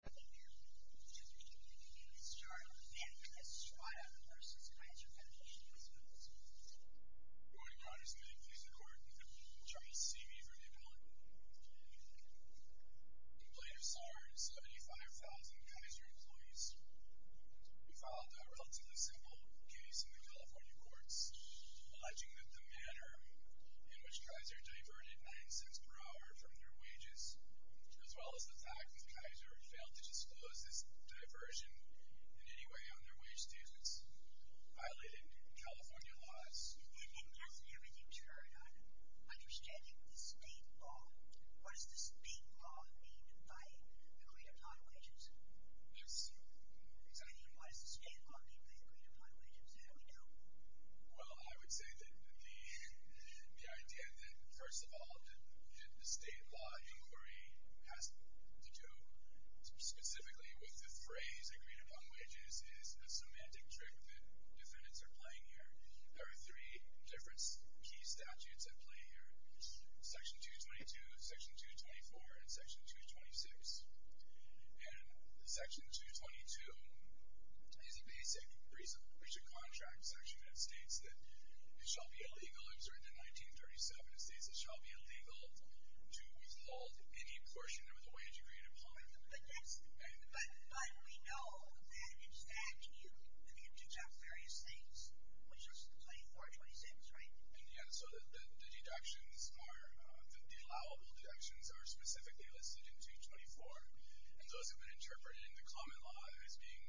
Good morning, Your Honor's committee, please record and try to see me for the record. In plaintiff's law, 75,000 Kaiser employees filed a relatively simple case in the California courts, alleging that the manner in which Kaiser diverted 9 cents per hour from their wages, as well as the fact that Kaiser failed to disclose this diversion in any way on their wage statements, violated California laws. Your Honor, understanding the state law, what does the state law mean by the greater time wages? Yes, Your Honor. I mean, what does the state law mean by the greater time wages? How do we know? Well, I would say that the idea that, first of all, the state law inquiry has to do specifically with the phrase, the greater time wages is a semantic trick that defendants are playing here. There are three different key statutes at play here, Section 222, Section 224, and Section 226. And Section 222 is a basic breach of contract section that states that it shall be illegal, I'm sorry, the 1937, it states it shall be illegal to withhold any portion of the wage-agreed employment. But that's, but how do we know? How do we understand? I mean, you do have various states, which are 24, 26, right? In the end, so the deductions are, the allowable deductions are specifically listed in 224, and those have been interpreted in the common law as being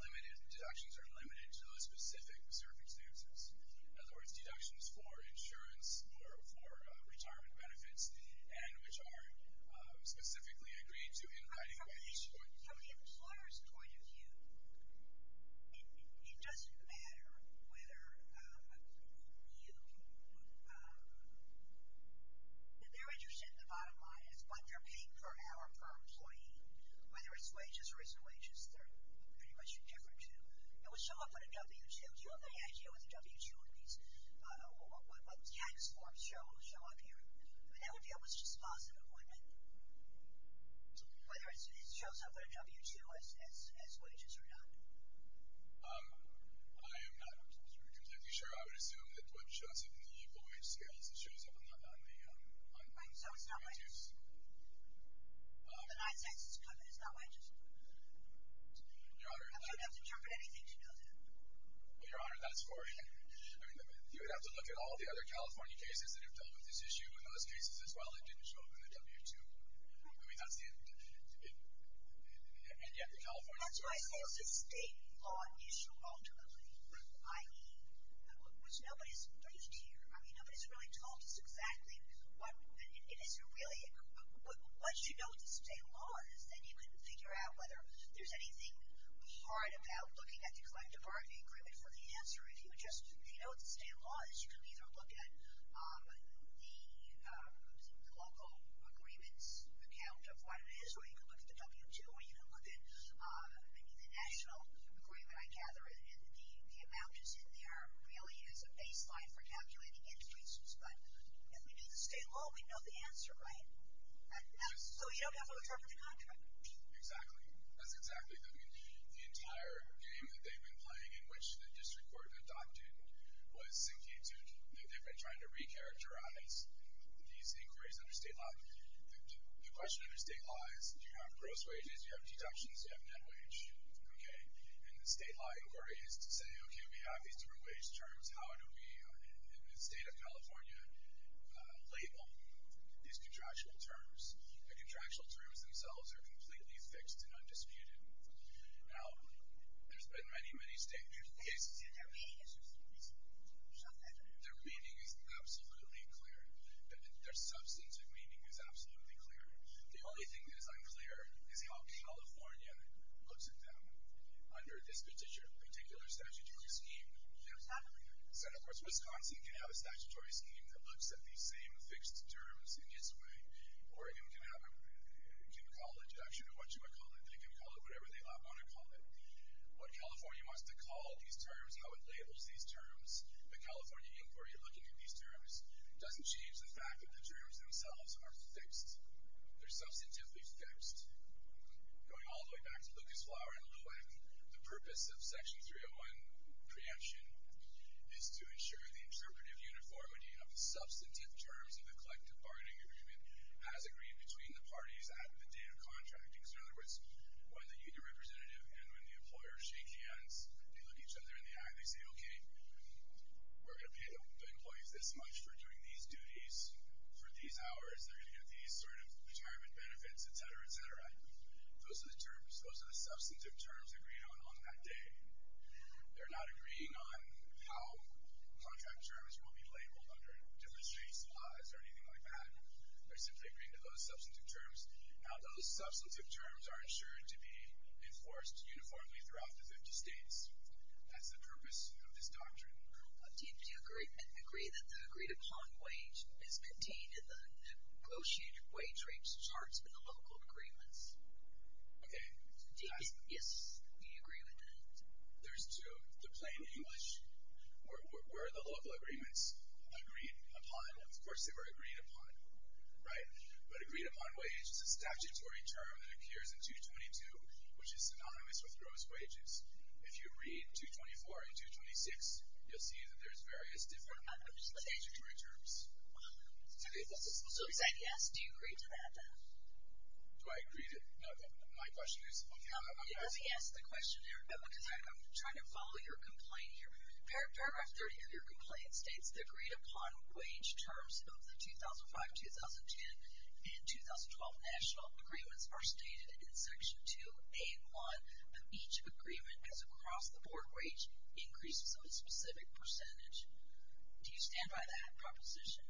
limited, the deductions are limited to those specific circumstances. In other words, deductions for insurance or for retirement benefits, and which are specifically agreed to in hiding wages. From the employer's point of view, it doesn't matter whether you, they're interested in the bottom line, but they're paying per hour per employee, whether it's wages or risk wages, they're pretty much indifferent to. It would show up on a W-2, if they had you as a W-2, at least what those tax forms show, it would show up here, but that would be almost just positive employment. So whether it shows up on a W-2 as wages or not? I am not completely sure. I would assume that what shows up in the equal wage scales, it shows up on the W-2s. Right, so it's not wages. The 9-6 is covered, it's not wages. Your Honor, that's... You don't have to cover anything to know that. Well, Your Honor, that's boring. I mean, you would have to look at all the other California cases that have dealt with this issue, in those cases as well, it didn't show up in the W-2. I mean, that's the end of it. And yet, in California... That's why it's a state law issue, ultimately. I mean, which nobody's briefed here. I mean, nobody's really told us exactly what, and it isn't really, once you know what the state law is, then you can figure out whether there's anything hard about looking at the collective bargaining agreement for the answer. If you just, if you know what the state law is, you can either look at the local agreements account of what it is, or you can look at the W-2, or you can look at maybe the national agreement, I gather, and the amount that's in there really is a baseline for calculating interest rates. But if we knew the state law, we'd know the answer, right? So you don't have to refer to the contract. Exactly. That's exactly, I mean, the entire game that they've been playing, in which the district court adopted, was sinking to, they've been trying to re-characterize these inquiries under state law. The question under state law is, do you have gross wages, do you have deductions, do you have net wage, okay? And the state law inquiry is to say, okay, we have these different wage terms, how do we, in the state of California, label these contractual terms? The contractual terms themselves are completely fixed and undisputed. Now, there's been many, many states, their meaning is absolutely clear. Their substance of meaning is absolutely clear. The only thing that is unclear is how California looks at them under this particular statutory scheme. So, of course, Wisconsin can have a statutory scheme that looks at these same fixed terms in its way, Oregon can have a, can call a deduction or whatchamacallit, they can call it whatever they want to call it. What California wants to call these terms, how it labels these terms, the California inquiry looking at these terms, doesn't change the fact that the terms themselves are fixed. They're substantively fixed. Going all the way back to Lucas, Flower, and Lewin, the purpose of Section 301 preemption is to ensure the interpretive uniformity of the substantive terms of the collective bargaining agreement as agreed between the parties at the date of contracting. So, in other words, when the union representative and when the employer shake hands, they look each other in the eye, they say, okay, we're going to pay the employees this much for doing these duties, for these hours, they're going to get these sort of retirement benefits, etc., etc. Those are the terms, those are the substantive terms They're not agreeing on how contract terms will be labeled under demonstrate laws or anything like that. They're simply agreeing to those substantive terms. Now, those substantive terms are ensured to be enforced uniformly throughout the 50 states. That's the purpose of this doctrine. Do you agree that the agreed-upon wage is contained in the negotiated wage rates charts in the local agreements? Okay. Do you agree with that? There's two. The plain English, where are the local agreements agreed upon? Of course, they were agreed upon, right? But agreed-upon wage is a statutory term that appears in 222, which is synonymous with gross wages. If you read 224 and 226, you'll see that there's various different statutory terms. So is that yes? Do you agree to that? Do I agree to... No, my question is... Let me ask the question, because I'm trying to follow your complaint here. Paragraph 30 of your complaint states that agreed-upon wage terms of the 2005, 2010, and 2012 national agreements are stated in Section 2A and 1 of each agreement as across-the-board wage increases of a specific percentage. Do you stand by that proposition?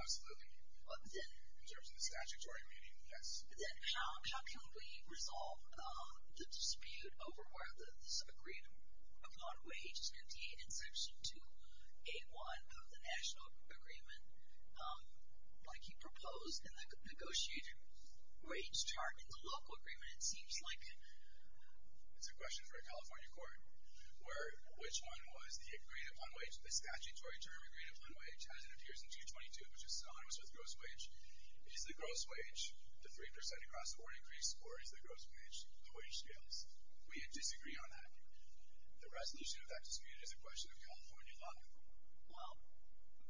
Absolutely. But then, in terms of the statutory meaning, yes. Then how can we resolve the dispute over whether this agreed-upon wage is going to be in Section 2A and 1 of the national agreement like you proposed in the negotiated wage chart in the local agreement? It seems like... It's a question for a California court where which one was the agreed-upon wage, the statutory term agreed-upon wage, as it appears in 222, which is synonymous with gross wage. Is the gross wage the 3% across-the-board increase or is the gross wage the wage scales? We disagree on that. The resolution of that dispute is a question of California law. Well,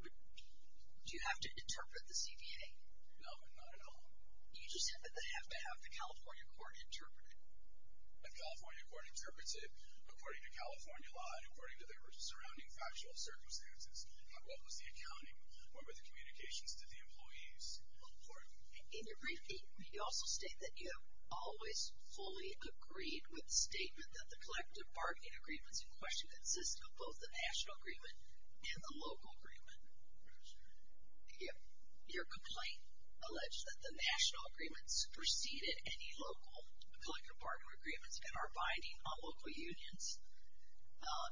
do you have to interpret the CBA? No, not at all. You just said that they have to have the California court interpret it. The California court interprets it according to California law and according to the surrounding factual circumstances. What was the accounting? What were the communications to the employees? In your brief, you also state that you have always fully agreed with the statement that the collective bargaining agreements in question consist of both the national agreement and the local agreement. Your complaint alleged that the national agreements preceded any local collective bargaining agreements and are binding on local unions,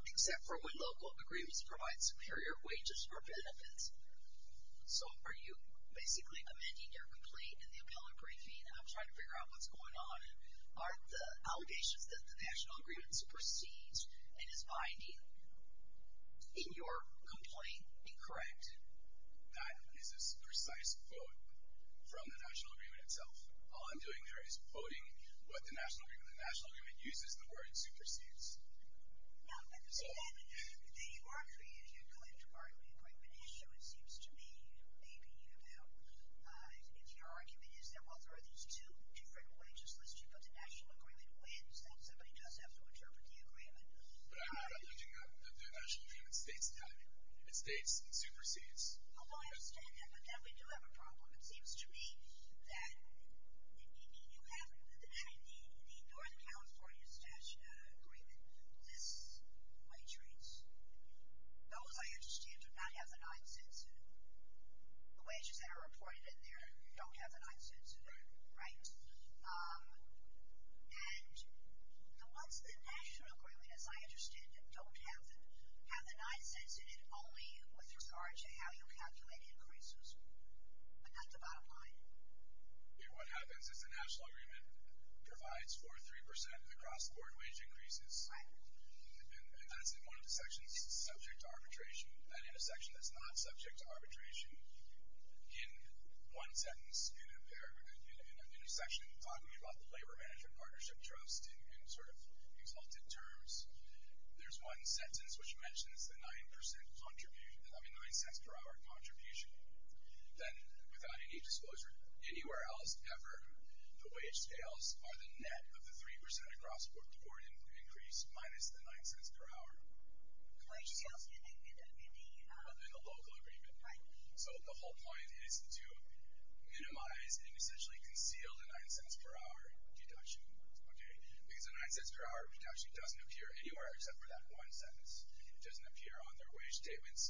except for when local agreements provide superior wages or benefits. So are you basically amending your complaint in the appellate briefing and I'm trying to figure out what's going on? Are the allegations that the national agreement supersedes and is binding in your complaint incorrect? That is a precise quote from the national agreement itself. All I'm doing there is quoting what the national agreement uses, the word supersedes. No, but the argument in your collective bargaining agreement issue, it seems to me, may be about if your argument is that, well, there are these two different wages listed, but the national agreement wins, then somebody does have to interpret the agreement. But I'm not alleging that the national agreement states that. It states it supersedes. Although I understand that, but then we do have a problem. It seems to me that you have the North California agreement, this wage rates. Those, I understand, do not have the nine cents in them. The wages that are reported in there don't have the nine cents in them. Right? And the ones that the national agreement, as I understand it, don't have the nine cents in it, only with regard to how you're calculating increases, but not the bottom line. What happens is the national agreement provides for 3% of the cross-border wage increases. Right. And that's in one of the sections subject to arbitration. And in a section that's not subject to arbitration, in one sentence in a section talking about the labor management partnership trust in sort of exalted terms, there's one sentence which mentions the nine cents per hour contribution. Then, without any disclosure anywhere else ever, the wage scales are the net of the 3% of cross-border increase minus the nine cents per hour. The wage scales are in the local agreement. Right. So the whole point is to minimize and essentially conceal the nine cents per hour deduction. Okay. Because the nine cents per hour deduction doesn't appear anywhere except for that one sentence. It doesn't appear on their wage statements.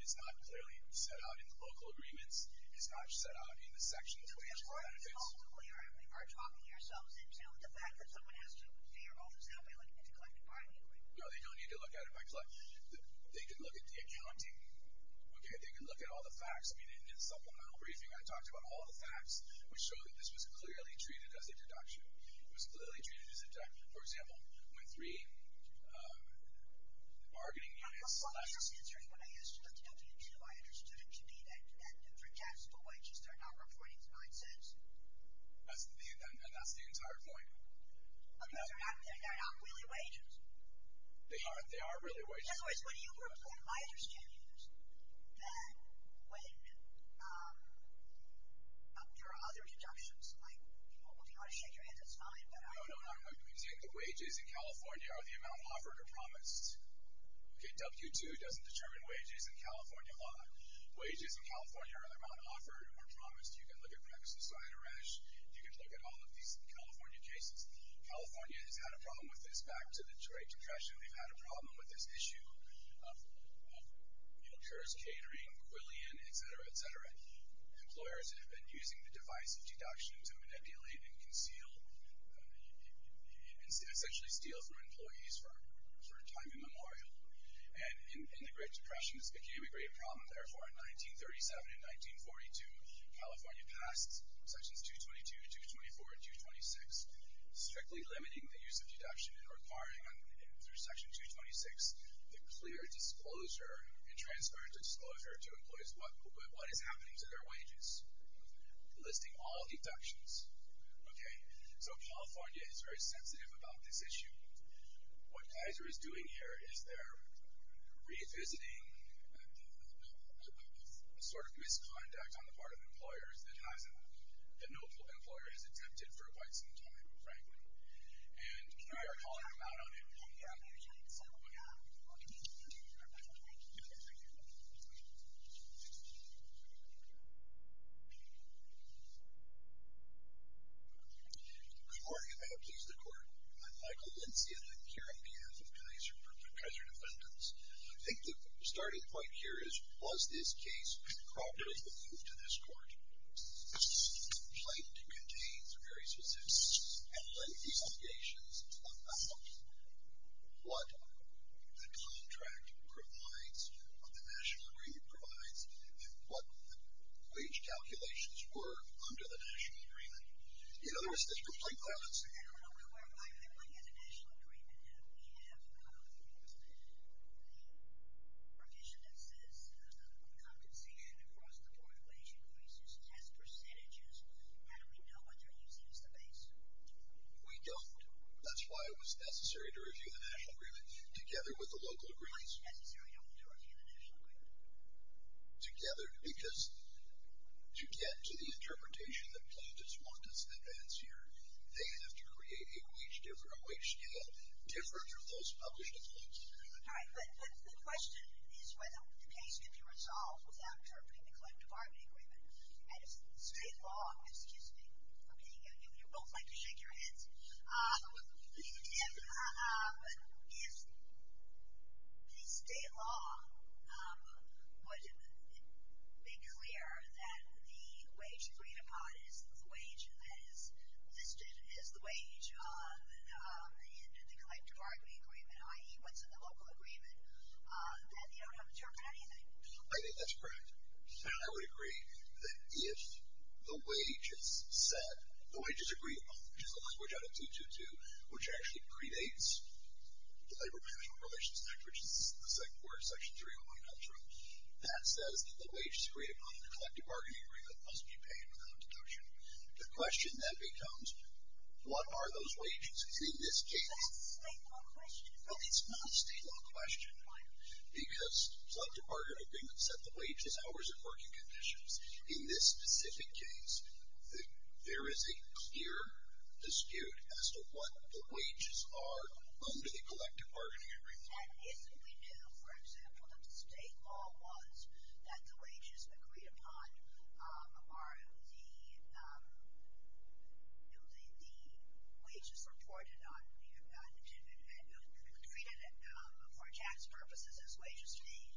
It's not clearly set out in the local agreements. It's not set out in the section on wage benefits. So we are talking ourselves into the fact that someone has to pay their own salary like an intercollective bargaining agreement. No, they don't need to look at it by collective. They can look at the accounting. Okay. They can look at all the facts. In the supplemental briefing, I talked about all the facts which show that this was clearly treated as a deduction. It was clearly treated as a deduction. For example, when 3 bargaining units. Well, I was just answering what I asked you about the W-2. I understood it to be that for taxable wages, they're not reporting the nine cents. And that's the entire point. I mean, they're not really wages. They are really wages. In other words, what do you report? My understanding is that when there are other deductions, like people will be able to shake your hand. That's fine. No, no, no. We take the wages in California or the amount offered or promised. Okay. W-2 doesn't determine wages in California law. Wages in California or the amount offered or promised, you can look at Pregnancy Suicide and Arrest. You can look at all of these California cases. California has had a problem with this. Back to the trade depression, W-2, we've had a problem with this issue. You know, CARES, Catering, Quillian, et cetera, et cetera. Employers have been using the device of deduction to manipulate and conceal and essentially steal from employees for a time immemorial. And in the Great Depression, this became a great problem. Therefore, in 1937 and 1942, California passed Sections 222, 224, and 226, strictly limiting the use of deduction and requiring, through Section 226, the clear disclosure and transparent disclosure to employees what is happening to their wages, listing all deductions. Okay. So California is very sensitive about this issue. What Kaiser is doing here is they're revisiting a sort of misconduct on the part of employers that hasn't... that no employer has attempted for quite some time, frankly. And we are calling them out on it again, and it's something that we want to continue to do. All right, thank you. Thank you. Thank you. Thank you. Good morning, and may it please the Court. I'm Michael Lindsey, and I'm here on behalf of Kaiser for Kaiser Defendants. I think the starting point here is, was this case properly moved to this Court? The complaint contains very specific allegations about what the contract provides, what the national agreement provides, and what the wage calculations were under the national agreement. In other words, there's a complaint file that's in there. I don't know where my complaint is. The national agreement, we have a provision that says compensation across the board of wage increases, test percentages. How do we know what they're using as the base? We don't. That's why it was necessary to review the national agreement together with the local agreements. Why is it necessary to review the national agreement? Together, because to get to the interpretation that plaintiffs want us to advance here, they have to create a wage scale different from those published complaints. All right, but the question is whether the case can be resolved without interpreting the collective bargaining agreement. At a state law, excuse me, you both like to shake your heads. If the state law would have been clear that the wage agreed upon is the wage, and the collective bargaining agreement, i.e., what's in the local agreement, then you don't have to interpret anything. I think that's correct. I would agree that if the wage is agreed upon, which is a language out of 222, which actually predates the labor-management relations act, which is the second part of section 301, that says that the wage is agreed upon in the collective bargaining agreement must be paid without deduction. The question then becomes, what are those wages? Because in this case... That's a state law question. Well, it's not a state law question. Why not? Because collective bargaining agreements set the wage as hours of working conditions. In this specific case, there is a clear dispute as to what the wages are under the collective bargaining agreement. That is what we do. For example, the state law was that the wages agreed upon are the wages reported on, and treated for tax purposes as wages paid.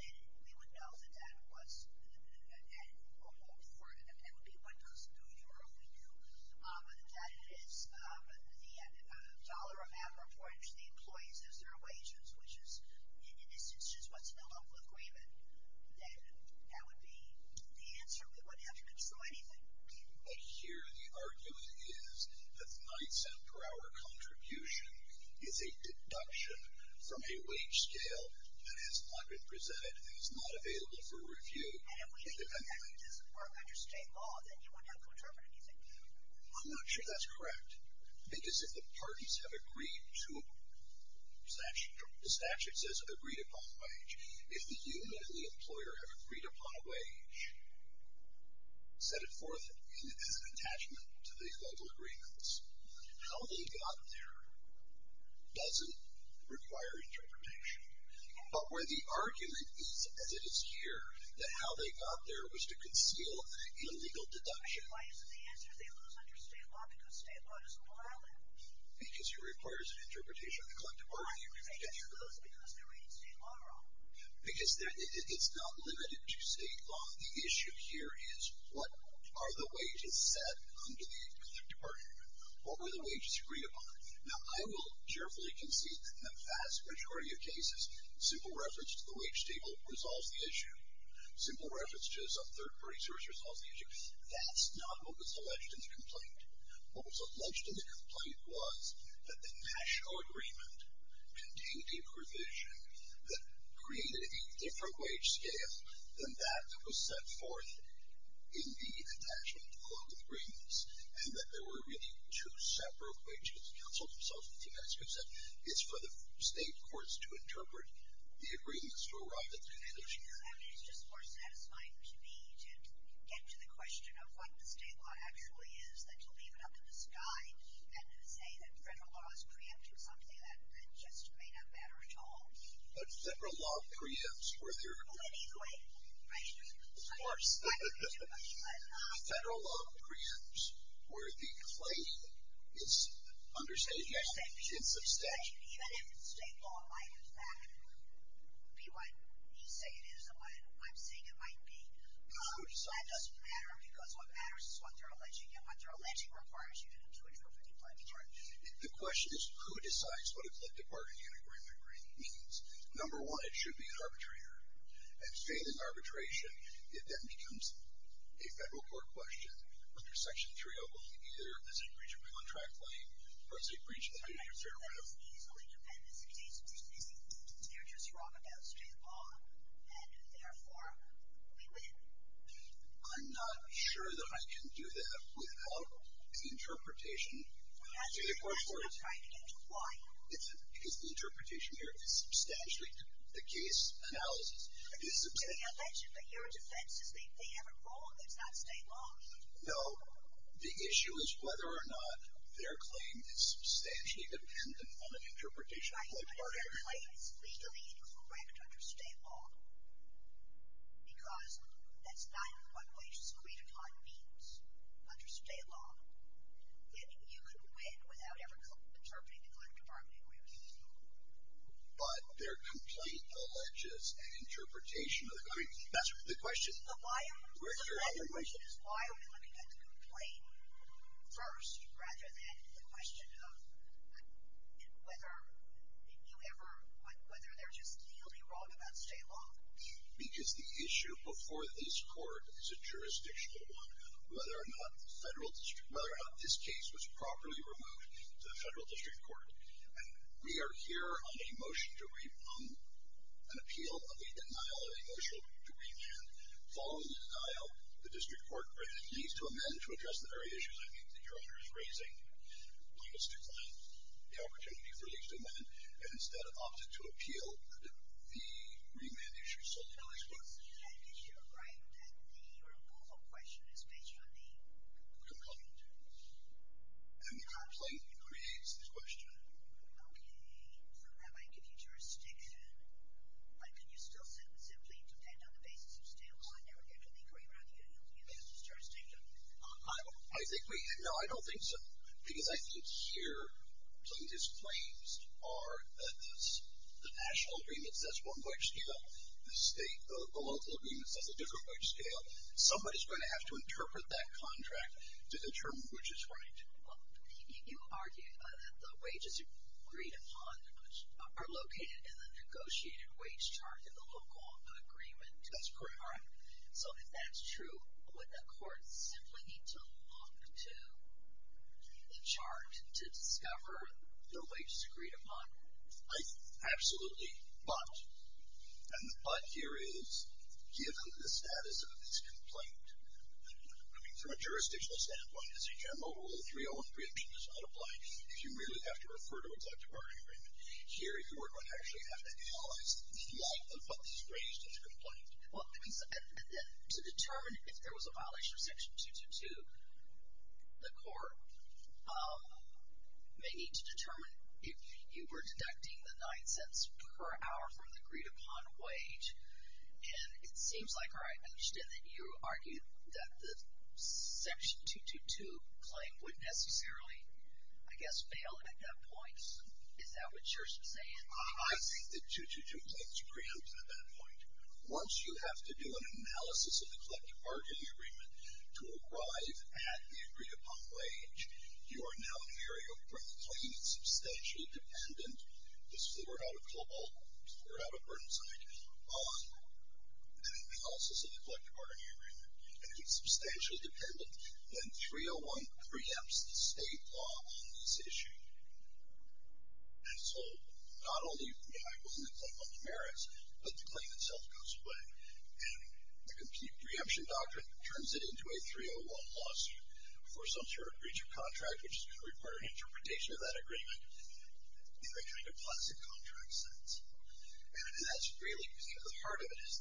Then we would know that that was... And there would be what does New York do. But if that is the dollar amount reported to the employees as their wages, which is in this instance what's in the local agreement, then that would be the answer that wouldn't have to control anything. But here the argument is that the $0.09 per hour contribution is a deduction from a wage scale that has not been presented and is not available for review. I don't really think that is part of under state law that you would have to interpret anything. I'm not sure that's correct. Because if the parties have agreed to... The statute says agreed upon wage. If the union and the employer have agreed upon a wage, set it forth as an attachment to the local agreements, how they got there doesn't require interpretation. But where the argument is, as it is here, that how they got there was to conceal an illegal deduction... Why isn't the answer they lose under state law because state law doesn't allow it? Because it requires an interpretation of the collective bargaining agreement. Because it's not limited to state law. The issue here is, what are the wages set under the collective bargaining agreement? What were the wages agreed upon? Now, I will carefully concede that the vast majority of cases, simple reference to the wage table resolves the issue. Simple reference to a third-party source resolves the issue. That's not what was alleged in the complaint. What was alleged in the complaint was that the national agreement contained a provision that created a different wage scale than that that was set forth in the attachment to the local agreements, and that there were really 2 separate wages. The counsel themselves have said it's for the state courts to interpret the agreements to arrive at the conclusion. It's just more satisfying to me to get to the question of what the state law actually is, than to leave it up in the sky and say that federal law is preempt or something that just may not matter at all. But federal law preempts where there... Well, anyway, right? Of course. Federal law preempts where the complaint is under state law. It's a statute. Even if state law might, in fact, be what you say it is and what I'm saying it might be, that doesn't matter, because what matters is what they're alleging, and what their alleging requires you to do in order for a complaint to be heard. The question is who decides what a flipped apartment agreement really means. Number one, it should be an arbitrator. If it's made an arbitration, it then becomes a federal court question. Under Section 301, either it's a breach of a contract claim or it's a breach of a... I'm not sure what it means. You're just wrong about state law, and therefore we win. I'm not sure that I can do that. Without the interpretation... That's exactly what I'm trying to get to. Why? Because the interpretation here is substantially different. The case analysis is substantially different. To the effect that your defense is that they have a rule that's not state law? No. The issue is whether or not their claim is substantially dependent on an interpretation of state law. I hope that explains the reading correct under state law. Because that's not what the religious creed of God means under state law. You could win without ever interpreting a flipped apartment agreement. But they're complete alleges an interpretation of... I mean, that's the question. The question is why would anyone get to complain first rather than the question of whether you ever... whether there just feels to be wrong about state law. Because the issue before this court is a jurisdictional one. Whether or not this case was properly removed to the federal district court. We are here on a motion to an appeal of a denial of a motion to remand. Following the denial, the district court needs to amend to address the very issues I think that your honor is raising. One is to decline the opportunity for at least a moment and instead opt to appeal the remand issue. So tell us what's the remand issue. Right. And the removal question is based on the... And the complaint creates this question. Okay. So have I given you jurisdiction? Can you still simply depend on the basis of state law and never ever think or even argue that you have jurisdiction? No, I don't think so. Because I think here some of these claims are that the national agreement says one wage scale. The local agreement says a different wage scale. Somebody is going to have to interpret that contract to determine which is right. You argue that the wages agreed upon are located in the negotiated wage chart in the local agreement. That's correct. So if that's true would the court simply need to look to the chart to discover the wages agreed upon? Absolutely. But here is given the status of this complaint from a jurisdictional standpoint as HMO Rule 303 does not apply if you really have to refer to a collective bargaining agreement. Here you would actually have to analyze the length of what is raised in the complaint. To determine if there was a violation of section 222 the court may need to determine if you were deducting the nine cents per hour from the agreed upon wage. And it seems like, or I understand that you argued that the section 222 claim would necessarily I guess fail at that point. Is that what you're saying? I think the 222 claim is preempted at that point. Once you have to do an analysis of the collective bargaining agreement to arrive at the agreed upon wage, you are now in the area where the claim is substantially dependent. This is the word out of global, word out of Burnside. And it also is a collective bargaining agreement. And it is substantially dependent when 301 preempts the state law on this issue. And so, not only was it a claim on the merits, but the claim itself goes away. And the preemption doctrine turns it into a 301 lawsuit for some sort of breach of contract, which is required interpretation of that agreement in a kind of classic contract sense. And that's really, you know, the heart of it is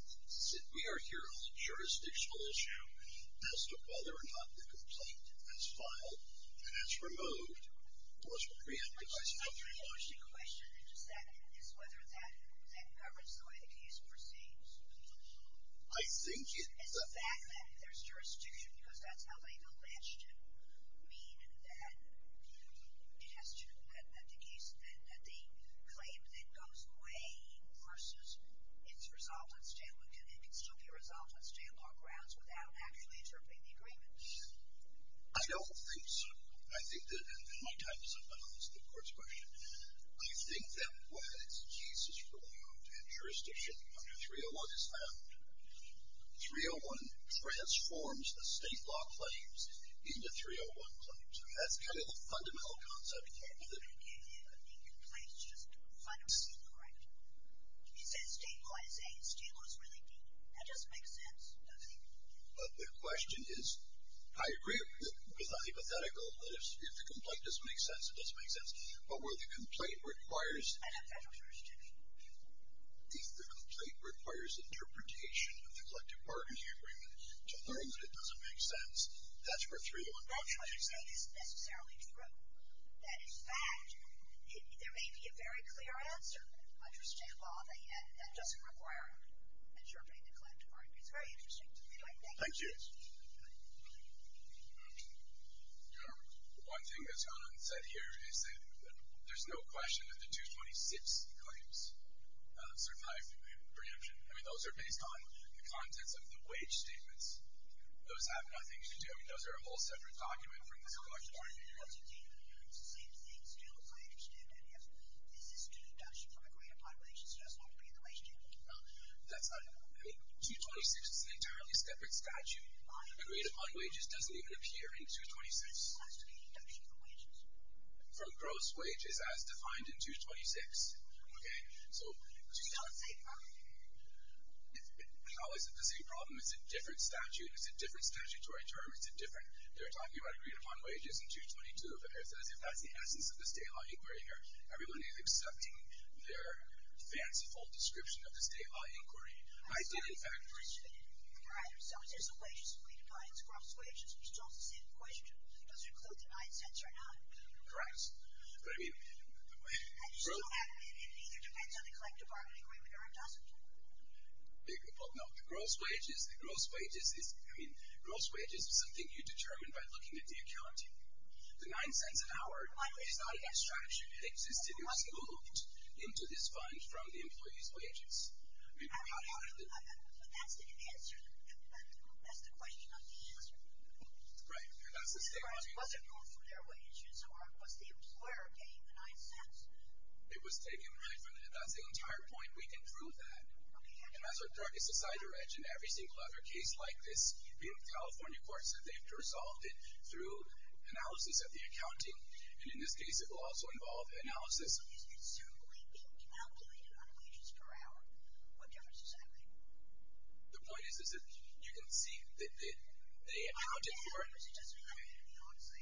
that we are here on a jurisdictional issue as to whether or not the complaint is filed and is removed unless we preempt it by sub-301. Is whether that governs the way the case proceeds? I think it does. And the fact that there's jurisdiction because that's how they alleged to mean that it has to, that the case, that the claim that goes away versus its result on state law, can it still be resolved on state law grounds without actually interpreting the agreement? I don't think so. I think that, and my time is up on the court's question. I think that when the case is removed and jurisdiction under 301 is found, 301 transforms the state law claims into 301 claims. That's kind of the fundamental concept of it. Yeah, yeah, yeah. I mean, the complaint is just a final scene, correct? He says state law is A, state law is really B. That doesn't make sense, does it? But the question is, I agree, it's not hypothetical, but if the complaint doesn't make sense, it doesn't make sense, but where the complaint requires... I don't understand. The complaint requires interpretation of the collective bargaining agreement to learn that it doesn't make sense. That's where 301 comes from. I don't think it's necessarily true. That is fact. There may be a very clear answer, under state law, that doesn't require interpreting the collective bargaining agreement. It's very interesting to me. Thank you. One thing that's gone unsaid here is that there's no question that the 226 claims survive the preemption. I mean, those are based on the contents of the wage statements. Those have nothing to do... I mean, those are a whole separate document from the collective bargaining agreement. 226 is an entirely separate statute. Agreed-upon wages doesn't even appear in 226. From gross wages as defined in 226. So, how is it the same problem? It's a different statute. It's a different statutory term. It's a different... They're talking about agreed-upon wages in 222, but if that's the essence of this state law inquiry here, everyone is accepting their fanciful description of this state law inquiry. I think, in fact... Correct. But, I mean... No, the gross wages... I mean, gross wages is something you determine by looking at the accounting. The nine cents an hour, which is not in that statute, exists in a single look into this fund from the employee's wages. I mean, how do you... But that's the answer... That's the question, not the answer. Right. Was it more for their wages, or was the employer paying the nine cents? It was taking the nine cents. That's the entire point. We can prove that. And that's our darkest decider edge in every single other case like this. The California court said they have to resolve it through analysis of the accounting. And in this case, it will also involve analysis of the assumed rate being calculated on wages per hour. What difference does that make? The point is that you can see that they accounted for it...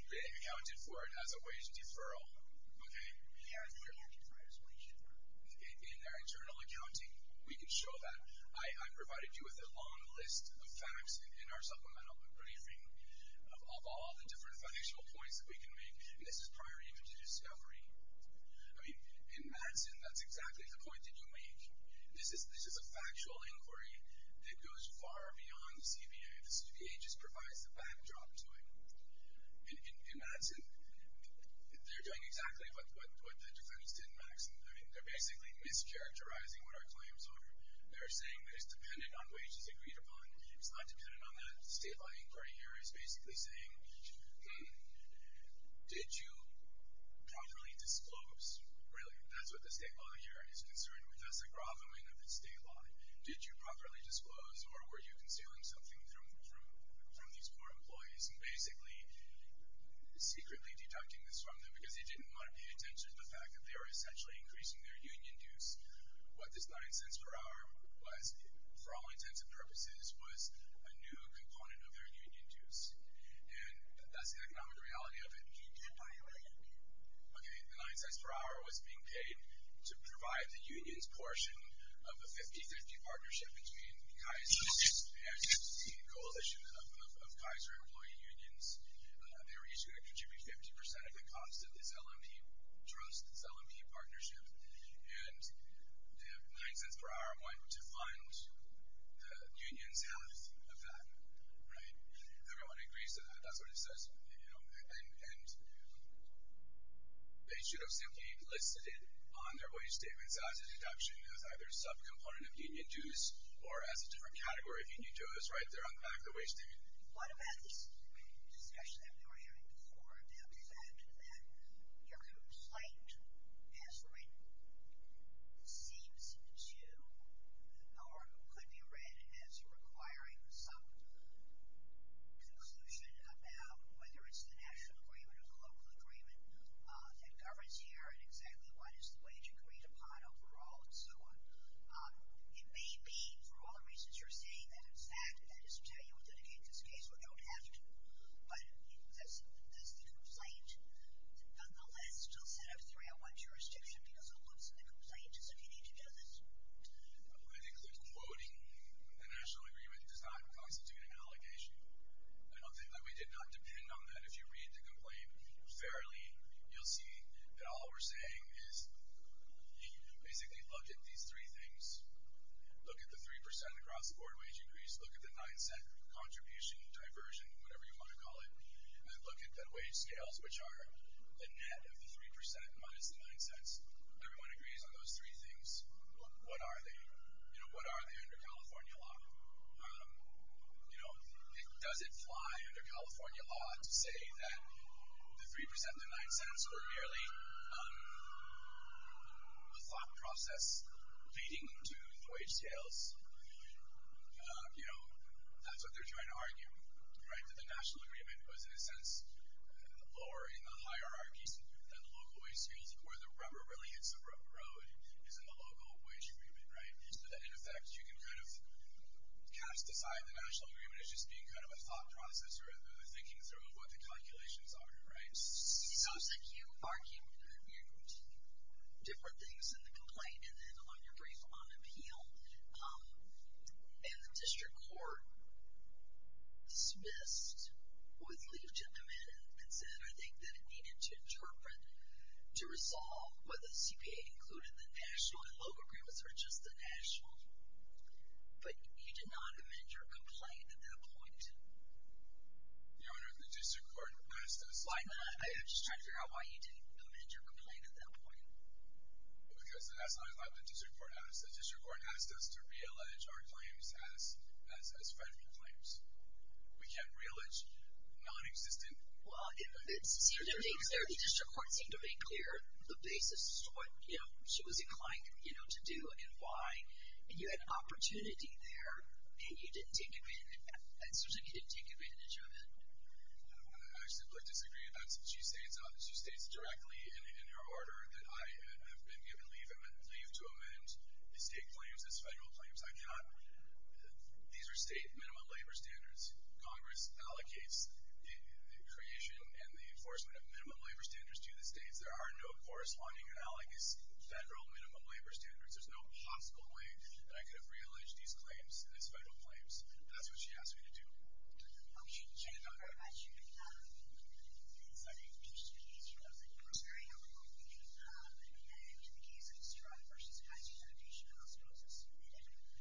They accounted for it as a wage deferral. Okay? In their internal accounting, we can show that. I provided you with a long list of facts in our supplemental briefing of all the different financial points that we can make. And this is prior even to discovery. In Madsen, that's exactly the point that you make. This is a factual inquiry that goes far beyond the CBA. The CBA just provides the backdrop to it. In Madsen, they're doing exactly what the defendants did in Madsen. They're basically mischaracterizing what our claims are. They're saying that it's dependent on wages agreed upon. It's not dependent on that. State law inquiry here is basically saying, did you properly disclose? Really, that's what the state law here is concerned with. That's the groveling of the state law. Did you properly disclose or were you concealing something from these four employees and basically secretly deducting this from them because they didn't want to pay attention to the fact that they were essentially increasing their union dues. What this nine cents per hour was for all intents and purposes was a new component of their union dues. That's the economic reality of it. The nine cents per hour was being paid to provide the union's portion of a 50-50 partnership between Kaiser and the coalition of Kaiser employee unions. They were issued a contributory 50% of the cost of this LME trust, this LME partnership. The nine cents per hour went to fund the union's portion of that. Everyone agrees to that. That's what it says. They should have simply listed it on their wage statements as a deduction, as either a sub-component of union dues or as a different category of union dues. They're on the back of the wage statement. What about this discussion that we were having before about the fact that your complaint seems to or could be read as requiring some conclusion about whether it's the national agreement or the local agreement that governs here and exactly what is the wage agreed upon overall and so on. It may be for all the reasons you're saying that it's that, that is to tell you we'll dedicate this case, we don't have to, but that's the complaint. Nonetheless, they'll set up 301 jurisdiction because it looks in the I think they're quoting the national agreement does not constitute an allegation. I don't think that we did not depend on that. If you read the complaint fairly, you'll see that all we're saying is you basically look at these three things. Look at the 3% across the board wage increase, look at the 9 cent contribution, diversion, whatever you want to call it, and then look at the wage scales, which are the net of the 3% minus the 9 cents. Everyone agrees on those three things. What are they? What are they under California law? Does it fly under California law to say that the 3% and the 9 cents were merely a thought process leading to wage scales? That's what they're trying to argue, that the national agreement was in a sense lower in the hierarchies than the local wage scales where the rubber really hits the rubber road is in the local wage agreement, right? So that in effect, you can kind of cast aside the national agreement as just being kind of a thought process or the thinking through of what the calculations are, right? You argued different things in the complaint and then on your brief on appeal, and the district court dismissed with leave to amend and said I think that it needed to be determined to resolve whether CPA included the national and local agreements or just the national. But you did not amend your complaint at that point. Your Honor, the district court asked us. I'm just trying to figure out why you didn't amend your complaint at that point. Because as I left, the district court asked us to re-allege our claims as federal claims. We can't re-allege non-existent claims. The district court seemed to make clear the basis for what she was inclined to do and why. You had opportunity there and you didn't take advantage of it. I simply disagree. She states directly in her order that I have the state claims as federal claims. These are state minimum labor standards. Congress allocates the creation and the enforcement of minimum labor standards to the states. There are no corresponding federal minimum labor standards. There's no possible way that I could have re-alleged these claims as federal claims. That's what she asked me to do. She did not go back to you. I'm sorry. I just wanted to make sure. I was very helpful. In the case of Stroud v. Kaiser Foundation, I was supposed to submit it.